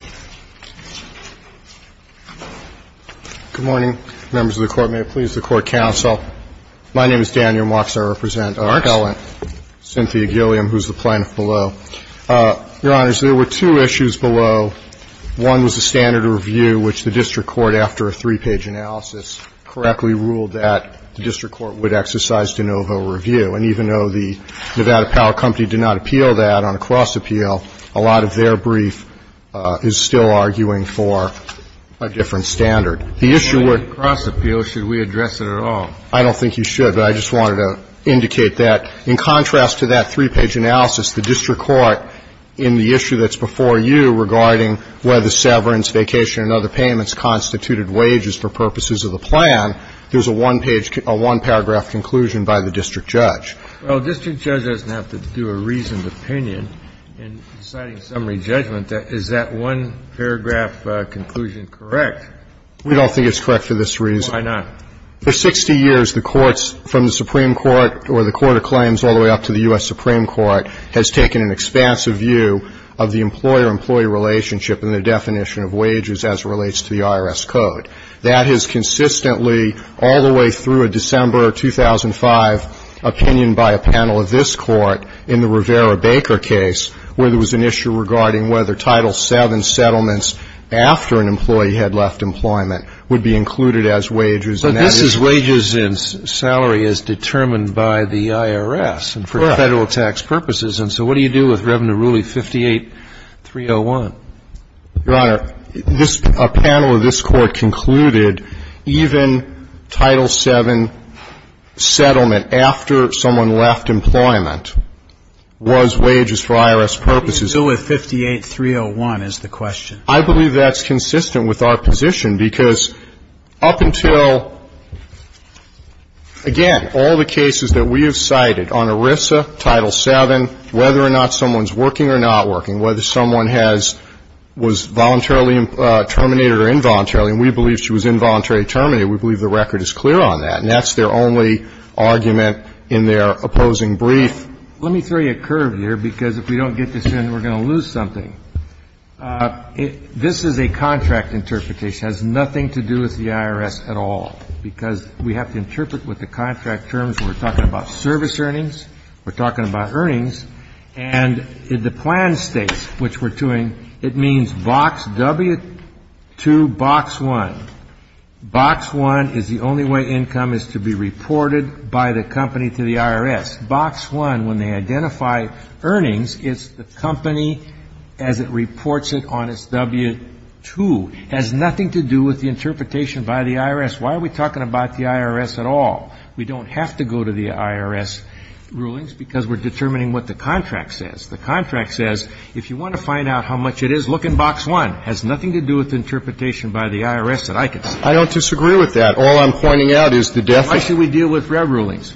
Good morning. Members of the court, may it please the court counsel. My name is Daniel Marks. I represent our felon, Cynthia Gilliam, who is the plaintiff below. Your honors, there were two issues below. One was the standard review, which the district court, after a three-page analysis, correctly ruled that the district court would exercise de novo review. And even though the Nevada Power Company did not appeal that on a cross appeal, a lot of their brief is still arguing for a different standard. The issue with the cross appeal, should we address it at all? I don't think you should, but I just wanted to indicate that. In contrast to that three-page analysis, the district court, in the issue that's before you regarding whether severance, vacation, and other payments constituted wages for purposes of the plan, there's a one-page, a one-paragraph conclusion by the district judge. Well, district judge doesn't have to do a reasoned opinion in deciding summary judgment. Is that one paragraph conclusion correct? We don't think it's correct for this reason. Why not? For 60 years, the courts from the Supreme Court or the court of claims all the way up to the U.S. Supreme Court has taken an expansive view of the employer-employee relationship and the definition of wages as it relates to the IRS code. That has consistently, all the way through a December 2005 opinion by a panel of this court, in the Rivera-Baker case, where there was an issue regarding whether Title VII settlements after an employee had left employment would be included as wages. But this is wages and salary as determined by the IRS and for federal tax purposes, and so what do you do with Revenue Ruling 58-301? Your Honor, this – a panel of this court concluded even Title VII settlement after someone left employment was wages for IRS purposes. What do you do with 58-301 is the question. I believe that's consistent with our position because up until, again, all the cases that we have cited on ERISA, Title VII, whether or not someone's working or not was voluntarily terminated or involuntarily, and we believe she was involuntarily terminated. We believe the record is clear on that, and that's their only argument in their opposing brief. Let me throw you a curve here because if we don't get this in, we're going to lose something. This is a contract interpretation. It has nothing to do with the IRS at all because we have to interpret what the contract terms. We're talking about service earnings. We're talking about earnings. And the plan states, which we're doing, it means box W-2, box 1. Box 1 is the only way income is to be reported by the company to the IRS. Box 1, when they identify earnings, it's the company as it reports it on its W-2. It has nothing to do with the interpretation by the IRS. Why are we talking about the IRS at all? We don't have to go to the IRS rulings because we're determining what the contract says. The contract says if you want to find out how much it is, look in box 1. It has nothing to do with interpretation by the IRS that I can say. I don't disagree with that. All I'm pointing out is the definition. Why should we deal with rev rulings?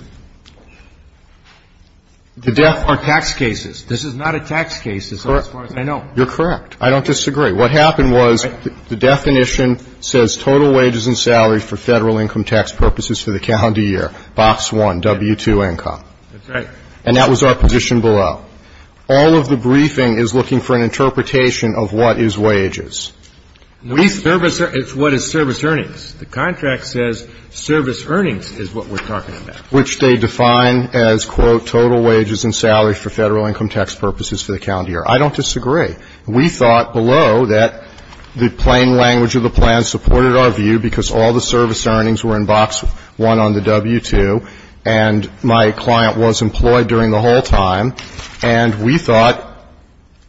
The death or tax cases. This is not a tax case as far as I know. You're correct. I don't disagree. What happened was the definition says total wages and salaries for Federal income tax purposes for the calendar year, box 1, W-2 income. That's right. And that was our position below. All of the briefing is looking for an interpretation of what is wages. We service the – it's what is service earnings. The contract says service earnings is what we're talking about. Which they define as, quote, total wages and salaries for Federal income tax purposes for the calendar year. I don't disagree. We thought below that the plain language of the plan supported our view because all the service earnings were in box 1 on the W-2, and my client was employed during the whole time, and we thought,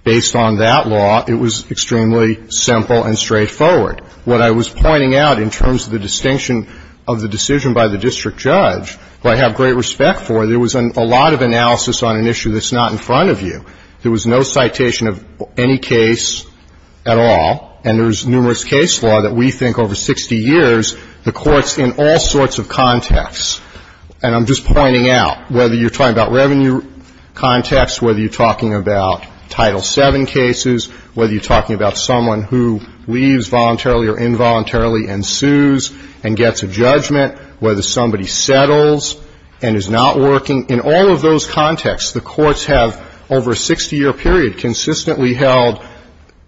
based on that law, it was extremely simple and straightforward. What I was pointing out in terms of the distinction of the decision by the district judge, who I have great respect for, there was a lot of analysis on an issue that's not in front of you. There was no citation of any case at all, and there's numerous case law that we think over 60 years, the courts in all sorts of contexts, and I'm just pointing out, whether you're talking about revenue context, whether you're talking about Title VII cases, whether you're talking about someone who leaves voluntarily or involuntarily and sues and gets a judgment, whether somebody settles and is not working. In all of those contexts, the courts have, over a 60-year period, consistently held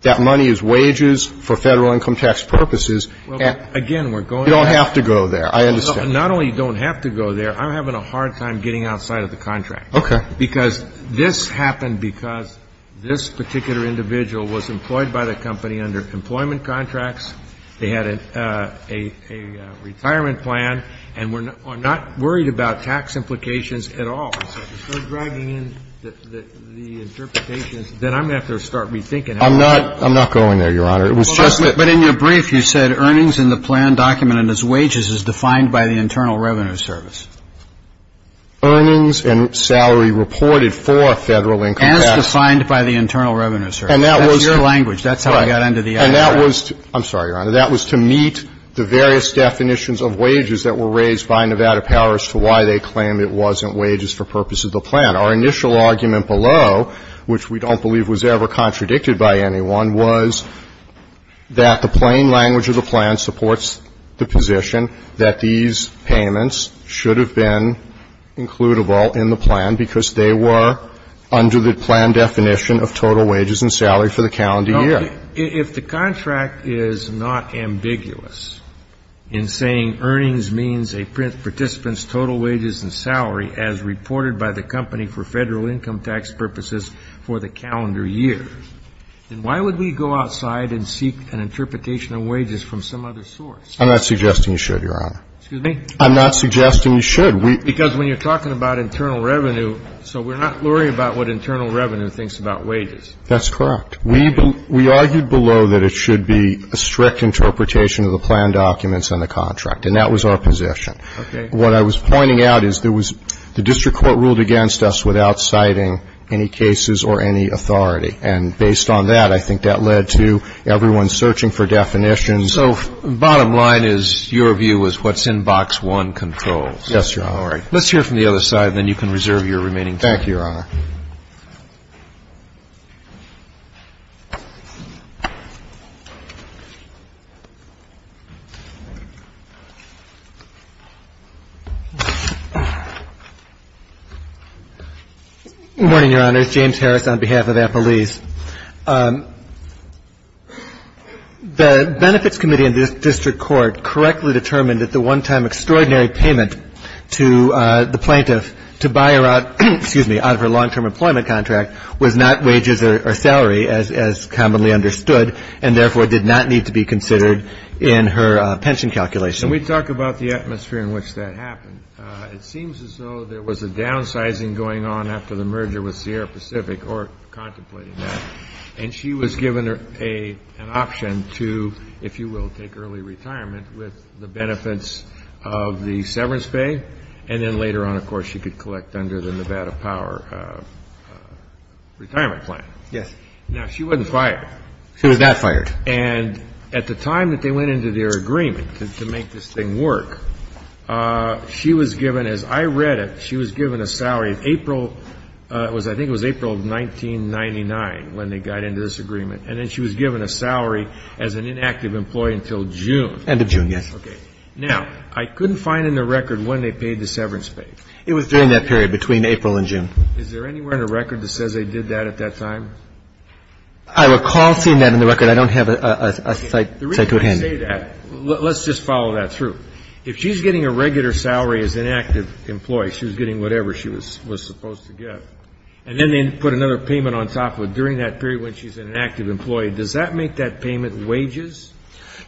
that money is wages for Federal income tax purposes and you don't have to go there. I understand. Not only you don't have to go there, I'm having a hard time getting outside of the contract. Okay. Because this happened because this particular individual was employed by the company under employment contracts, they had a retirement plan, and we're not worried about tax implications at all. I'm dragging in the interpretation, then I'm going to have to start rethinking it. I'm not going there, Your Honor. But in your brief, you said earnings in the plan documented as wages is defined by the Internal Revenue Service. Earnings and salary reported for Federal income tax. As defined by the Internal Revenue Service. And that was your language. That's how I got under the idea. And that was to meet the various definitions of wages that were raised by Nevada powers to why they claim it wasn't wages for purposes of the plan. Our initial argument below, which we don't believe was ever contradicted by anyone, was that the plain language of the plan supports the position that these payments should have been includable in the plan because they were under the plan definition of total wages and salary for the calendar year. If the contract is not ambiguous in saying earnings means a participant's total wages and salary as reported by the company for Federal income tax purposes for the calendar year, then why would we go outside and seek an interpretation of wages from some other source? I'm not suggesting you should, Your Honor. Excuse me? I'm not suggesting you should. Because when you're talking about internal revenue, so we're not worried about what internal revenue thinks about wages. That's correct. We argued below that it should be a strict interpretation of the plan documents and the contract. And that was our position. Okay. What I was pointing out is there was the district court ruled against us without citing any cases or any authority. And based on that, I think that led to everyone searching for definitions. So bottom line is your view is what's in box one controls. Yes, Your Honor. All right. Let's hear from the other side, and then you can reserve your remaining time. Thank you, Your Honor. Good morning, Your Honor. It's James Harris on behalf of Applebee's. The Benefits Committee in the district court correctly determined that the one-time extraordinary payment to the plaintiff to buy her out of her long-term employment contract was not wages or salary, as commonly understood, and therefore did not need to be considered in her pension calculation. And we talk about the atmosphere in which that happened. It seems as though there was a downsizing going on after the merger with Sierra Pacific, or contemplating that. And she was given an option to, if you will, take early retirement with the of the severance pay, and then later on, of course, she could collect under the Nevada Power retirement plan. Yes. Now, she wasn't fired. She was not fired. And at the time that they went into their agreement to make this thing work, she was given, as I read it, she was given a salary in April. It was, I think it was April of 1999 when they got into this agreement. And then she was given a salary as an inactive employee until June. End of June, yes. Okay. Now, I couldn't find in the record when they paid the severance pay. It was during that period, between April and June. Is there anywhere in the record that says they did that at that time? I recall seeing that in the record. I don't have a site to attend. The reason I say that, let's just follow that through. If she's getting a regular salary as an inactive employee, she was getting whatever she was supposed to get, and then they put another payment on top of it during that period when she's an inactive employee, does that make that payment wages?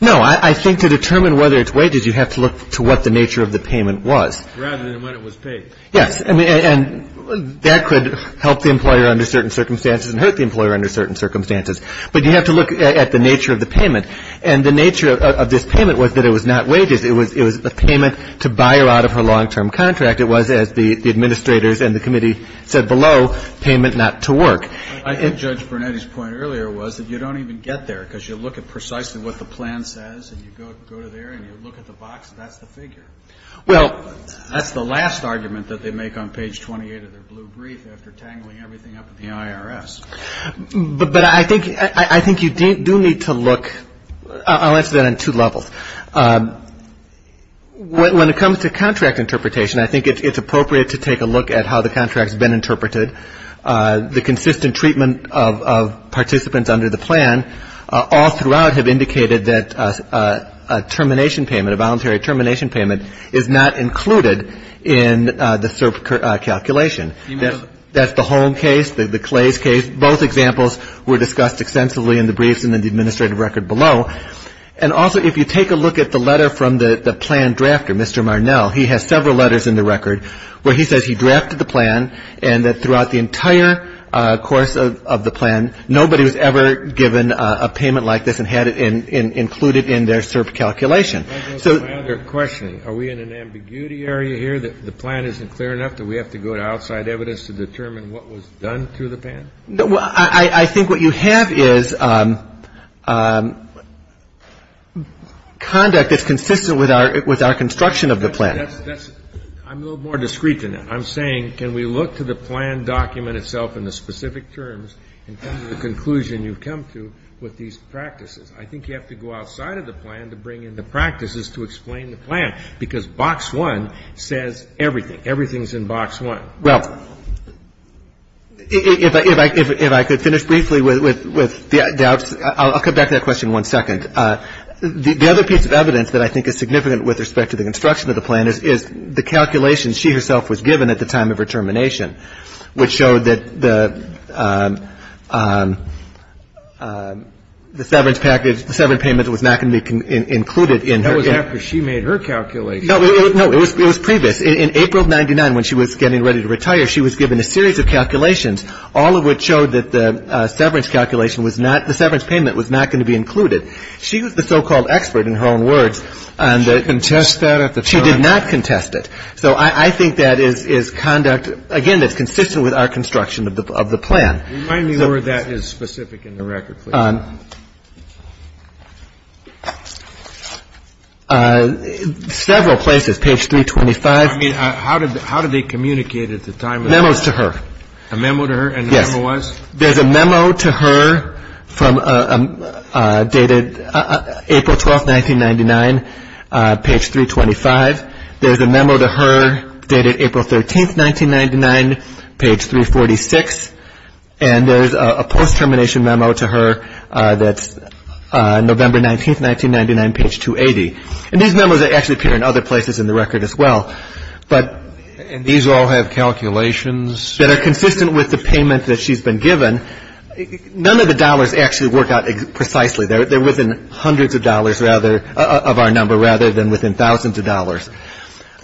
No. I think to determine whether it's wages, you have to look to what the nature of the payment was. Rather than when it was paid. Yes. And that could help the employer under certain circumstances and hurt the employer under certain circumstances. But you have to look at the nature of the payment. And the nature of this payment was that it was not wages. It was a payment to buy her out of her long-term contract. It was, as the Administrators and the Committee said below, payment not to work. I think Judge Brunetti's point earlier was that you don't even get there because you look at precisely what the plan says, and you go to there, and you look at the box, and that's the figure. Well, that's the last argument that they make on page 28 of their blue brief after tangling everything up at the IRS. But I think you do need to look, I'll answer that on two levels. When it comes to contract interpretation, I think it's appropriate to take a look at how the contract's been interpreted. The consistent treatment of participants under the plan all throughout have indicated that a termination payment, a voluntary termination payment, is not included in the SIRP calculation. That's the Holm case, the Clays case. Both examples were discussed extensively in the briefs and in the Administrative Record below. And also, if you take a look at the letter from the plan drafter, Mr. Marnell, he has said that throughout the entire course of the plan, nobody was ever given a payment like this and had it included in their SIRP calculation. So... I have a question. Are we in an ambiguity area here, that the plan isn't clear enough, that we have to go to outside evidence to determine what was done through the plan? I think what you have is conduct that's consistent with our construction of the plan. I'm a little more discreet than that. I'm saying, can we look to the plan document itself in the specific terms in terms of the conclusion you've come to with these practices? I think you have to go outside of the plan to bring in the practices to explain the plan, because box one says everything. Everything's in box one. Well, if I could finish briefly with that. I'll come back to that question in one second. The other piece of evidence that I think is significant with respect to the construction of the plan is the calculation she herself was given at the time of her termination, which showed that the severance package, the severance payment was not going to be included in her... That was after she made her calculation. No, it was previous. In April of 99, when she was getting ready to retire, she was given a series of calculations, all of which showed that the severance calculation was not, the severance payment was not going to be included. She was the so-called expert in her own words on the... Did she contest that at the time? She did not contest it. So I think that is conduct, again, that's consistent with our construction of the plan. Remind me where that is specific in the record, please. Several places. Page 325. I mean, how did they communicate at the time? Memos to her. A memo to her? Yes. And the memo was? There's a memo to her dated April 12th, 1999, page 325. There's a memo to her dated April 13th, 1999, page 346. And there's a post-termination memo to her that's November 19th, 1999, page 280. And these memos actually appear in other places in the record as well. And these all have calculations? That are consistent with the payment that she's been given. None of the dollars actually work out precisely. They're within hundreds of dollars, rather, of our number, rather than within thousands of dollars.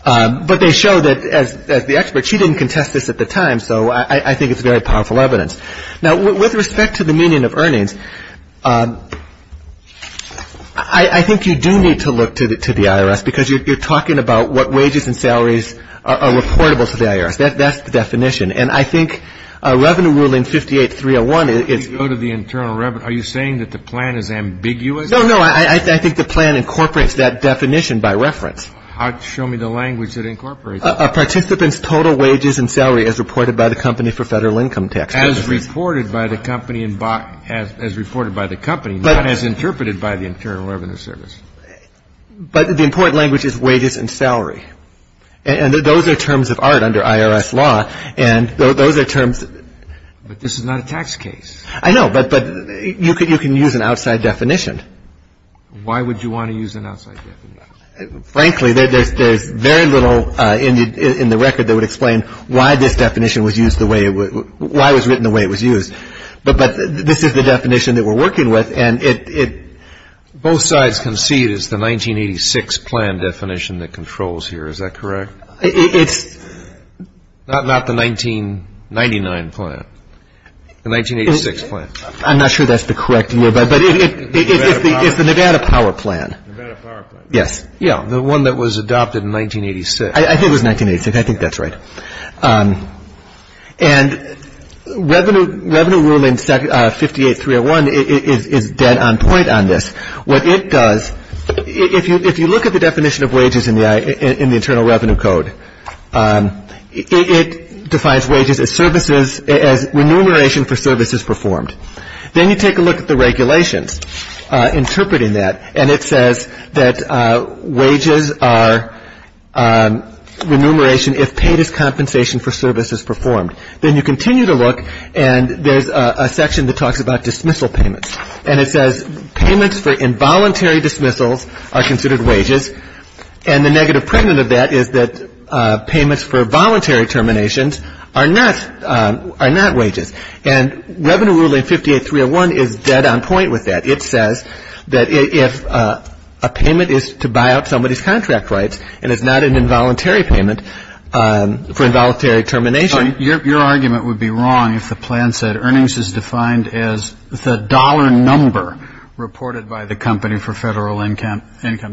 But they show that, as the expert, she didn't contest this at the time. So I think it's very powerful evidence. Now, with respect to the meaning of earnings, I think you do need to look to the IRS, because you're talking about what wages and salaries are reportable to the IRS. That's the definition. And I think Revenue Ruling 58-301 is go to the internal revenue. Are you saying that the plan is ambiguous? No, no. I think the plan incorporates that definition by reference. Show me the language that incorporates it. Participants' total wages and salary as reported by the Company for Federal Income Tax. As reported by the company, not as interpreted by the Internal Revenue Service. But the important language is wages and salary. And those are terms of art under IRS law. And those are terms. But this is not a tax case. I know. But you can use an outside definition. Why would you want to use an outside definition? Frankly, there's very little in the record that would explain why this definition was used the way it was, why it was written the way it was used. But this is the definition that we're working with. And both sides concede it's the 1986 plan definition that controls here. Is that correct? It's not the 1999 plan. The 1986 plan. I'm not sure that's the correct year, but it's the Nevada Power Plan. Nevada Power Plan. Yes. Yeah, the one that was adopted in 1986. I think it was 1986. I think that's right. And Revenue Ruling 58-301 is dead on point on this. What it does, if you look at the definition of wages in the Internal Revenue Code, it defines wages as services, as remuneration for services performed. Then you take a look at the regulations interpreting that, and it says that wages are remuneration if paid as compensation for services performed. Then you continue to look, and there's a section that talks about dismissal payments. And it says payments for involuntary dismissals are considered wages, and the negative print of that is that payments for voluntary terminations are not wages. And Revenue Ruling 58-301 is dead on point with that. It says that if a payment is to buy out somebody's contract rights and it's not an involuntary payment for involuntary termination. Your argument would be wrong if the plan said earnings is defined as the dollar number reported by the company for federal income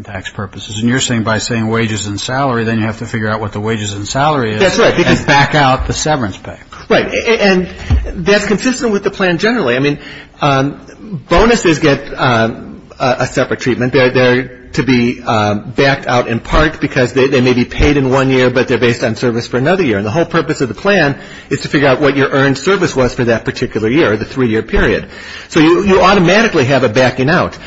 tax purposes. And you're saying by saying wages and salary, then you have to figure out what the wages and salary is. That's right. And back out the severance pay. Right. And that's consistent with the plan generally. I mean, bonuses get a separate treatment. They're to be backed out in part because they may be paid in one year, but they're based on service for another year. And the whole purpose of the plan is to figure out what your earned service was for that particular year, the three-year period. So you automatically have a backing out.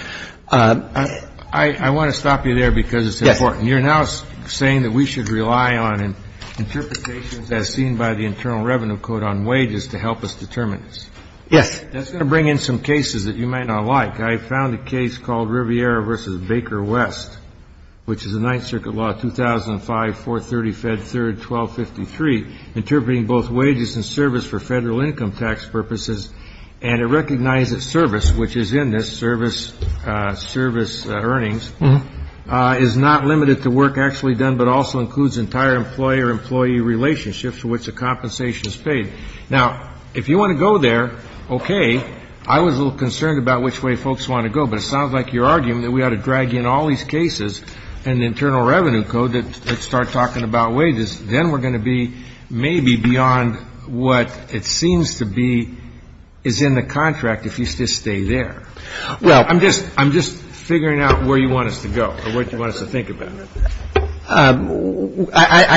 I want to stop you there because it's important. Yes. You're now saying that we should rely on interpretations as seen by the Internal Revenue Code on wages to help us determine this. Yes. That's going to bring in some cases that you might not like. I found a case called Riviera v. Baker West, which is a Ninth Circuit law, 2005, 430, Fed 3rd, 1253, interpreting both wages and service for federal income tax purposes. And it recognized that service, which is in this, service earnings, is not limited to work actually done but also includes entire employee or employee relationships for which a compensation is paid. Now, if you want to go there, okay, I was a little concerned about which way folks want to go, but it sounds like you're arguing that we ought to drag in all these cases and the Internal Revenue Code that start talking about wages. Then we're going to be maybe beyond what it seems to be is in the contract if you just stay there. Well. I'm just figuring out where you want us to go or what you want us to think about. I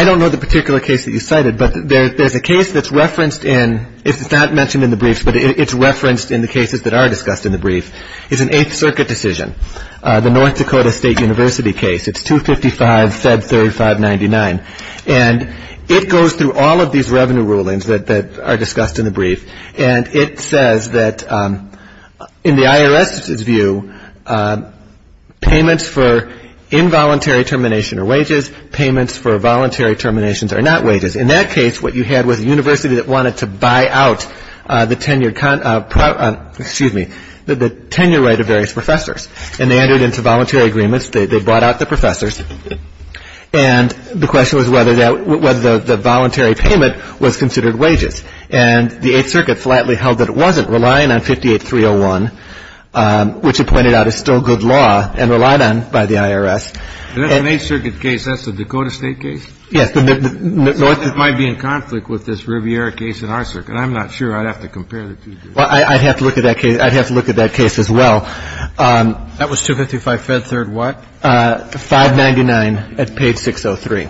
don't know the particular case that you cited, but there's a case that's referenced in, it's not mentioned in the briefs, but it's referenced in the cases that are discussed in the brief. It's an Eighth Circuit decision, the North Dakota State University case. It's 255, Fed 3599. And it goes through all of these revenue rulings that are discussed in the brief. And it says that in the IRS's view, payments for involuntary termination are wages. Payments for voluntary terminations are not wages. In that case, what you had was a university that wanted to buy out the tenured, excuse me, the tenure rate of various professors. And they entered into voluntary agreements. They brought out the professors. And the question was whether the voluntary payment was considered wages. And the Eighth Circuit flatly held that it wasn't, relying on 58-301, which it pointed out is still good law and relied on by the IRS. In that Eighth Circuit case, that's the Dakota State case? Yes. So it might be in conflict with this Riviera case in our circuit. I'm not sure. I'd have to compare the two. Well, I'd have to look at that case. I'd have to look at that case as well. That was 255, Fed 3rd what? 599 at page 603.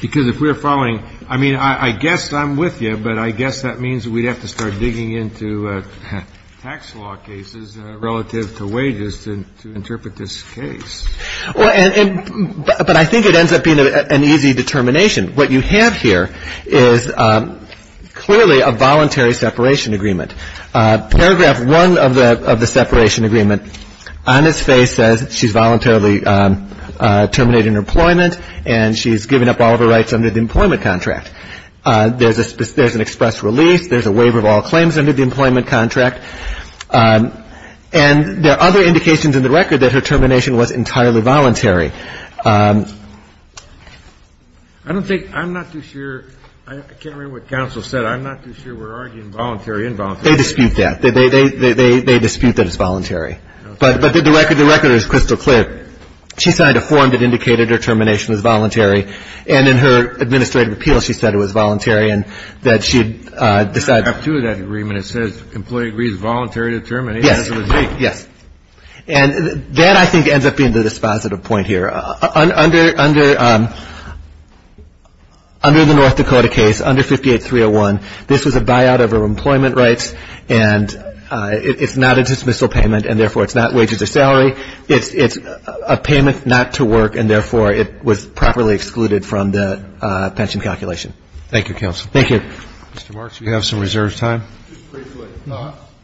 Because if we're following, I mean, I guess I'm with you, but I guess that means we'd have to start digging into tax law cases relative to wages to interpret this case. Well, and but I think it ends up being an easy determination. What you have here is clearly a voluntary separation agreement. Paragraph 1 of the separation agreement, on its face says she's voluntarily terminating her employment and she's given up all of her rights under the employment contract. There's an express release. There's a waiver of all claims under the employment contract. And there are other indications in the record that her termination was entirely voluntary. I don't think, I'm not too sure. I can't remember what counsel said. I'm not too sure we're arguing voluntary, involuntary. They dispute that. They dispute that it's voluntary. But the record is crystal clear. She signed a form that indicated her termination was voluntary. And in her administrative appeal, she said it was voluntary and that she decided. I have two of that agreement. It says employee agrees voluntarily to terminate. Yes. Yes. And that I think ends up being the dispositive point here. Under the North Dakota case, under 58301, this was a buyout of her employment rights. And it's not a dismissal payment and, therefore, it's not wages or salary. It's a payment not to work and, therefore, it was properly excluded from the pension calculation. Thank you, counsel. Thank you. Mr. Marks, you have some reserve time. Just briefly,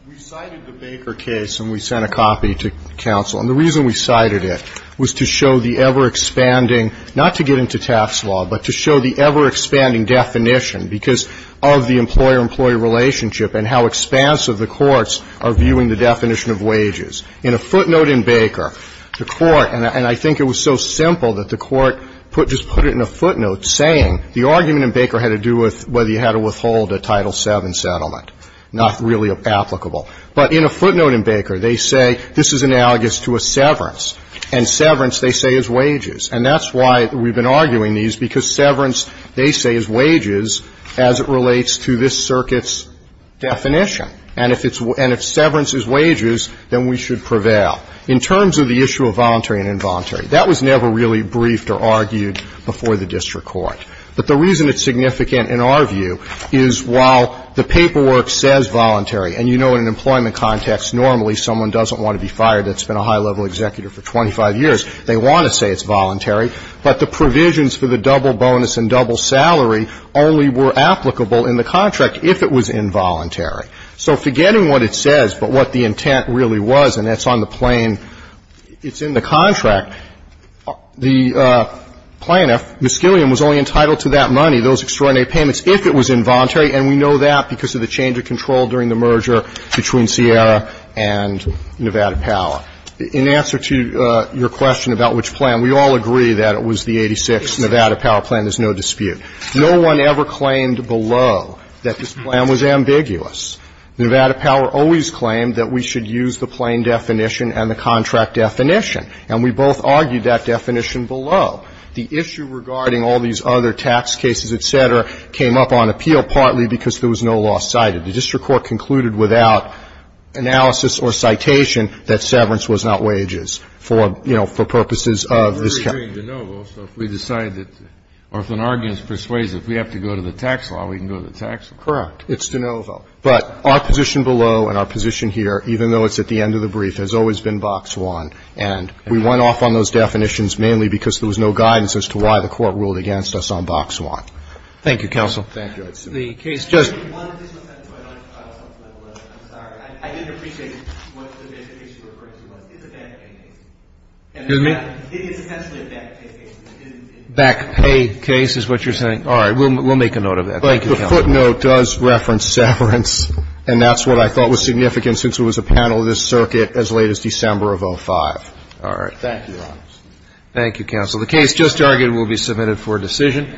we cited the Baker case and we sent a copy to counsel. And the reason we cited it was to show the ever-expanding, not to get into tax law, but to show the ever-expanding definition because of the employer-employee relationship and how expansive the courts are viewing the definition of wages. In a footnote in Baker, the court, and I think it was so simple that the court just put it in a footnote saying the argument in Baker had to do with whether you had to withhold a Title VII settlement, not really applicable. But in a footnote in Baker, they say this is analogous to a severance. And severance, they say, is wages. And that's why we've been arguing these because severance, they say, is wages as it relates to this circuit's definition. And if severance is wages, then we should prevail. In terms of the issue of voluntary and involuntary, that was never really briefed or argued before the district court. But the reason it's significant in our view is while the paperwork says voluntary and you know in an employment context normally someone doesn't want to be fired that's been a high-level executive for 25 years. They want to say it's voluntary. But the provisions for the double bonus and double salary only were applicable in the contract if it was involuntary. So forgetting what it says but what the intent really was, and that's on the plain it's in the contract, the plaintiff, Miscillian, was only entitled to that money, those extraordinary payments, if it was involuntary. And we know that because of the change of control during the merger between Sierra and Nevada Power. In answer to your question about which plan, we all agree that it was the 86th Nevada Power plan. There's no dispute. No one ever claimed below that this plan was ambiguous. Nevada Power always claimed that we should use the plain definition and the contract definition. And we both argued that definition below. The issue regarding all these other tax cases, et cetera, came up on appeal partly because there was no law cited. The district court concluded without analysis or citation that severance was not wages for, you know, for purposes of this case. We're agreeing de novo, so if we decide that or if an argument is persuasive, we have to go to the tax law, we can go to the tax law. Correct. It's de novo. But our position below and our position here, even though it's at the end of the brief, has always been box one. And we went off on those definitions mainly because there was no guidance as to why the court ruled against us on box one. Thank you, counsel. Thank you. The case just Back pay case is what you're saying. All right. We'll make a note of that. Thank you. Footnote does reference severance. And that's what I thought was significant since it was a panel of this circuit as late as December of 05. All right. Thank you. Thank you, counsel. The case just argued will be submitted for decision.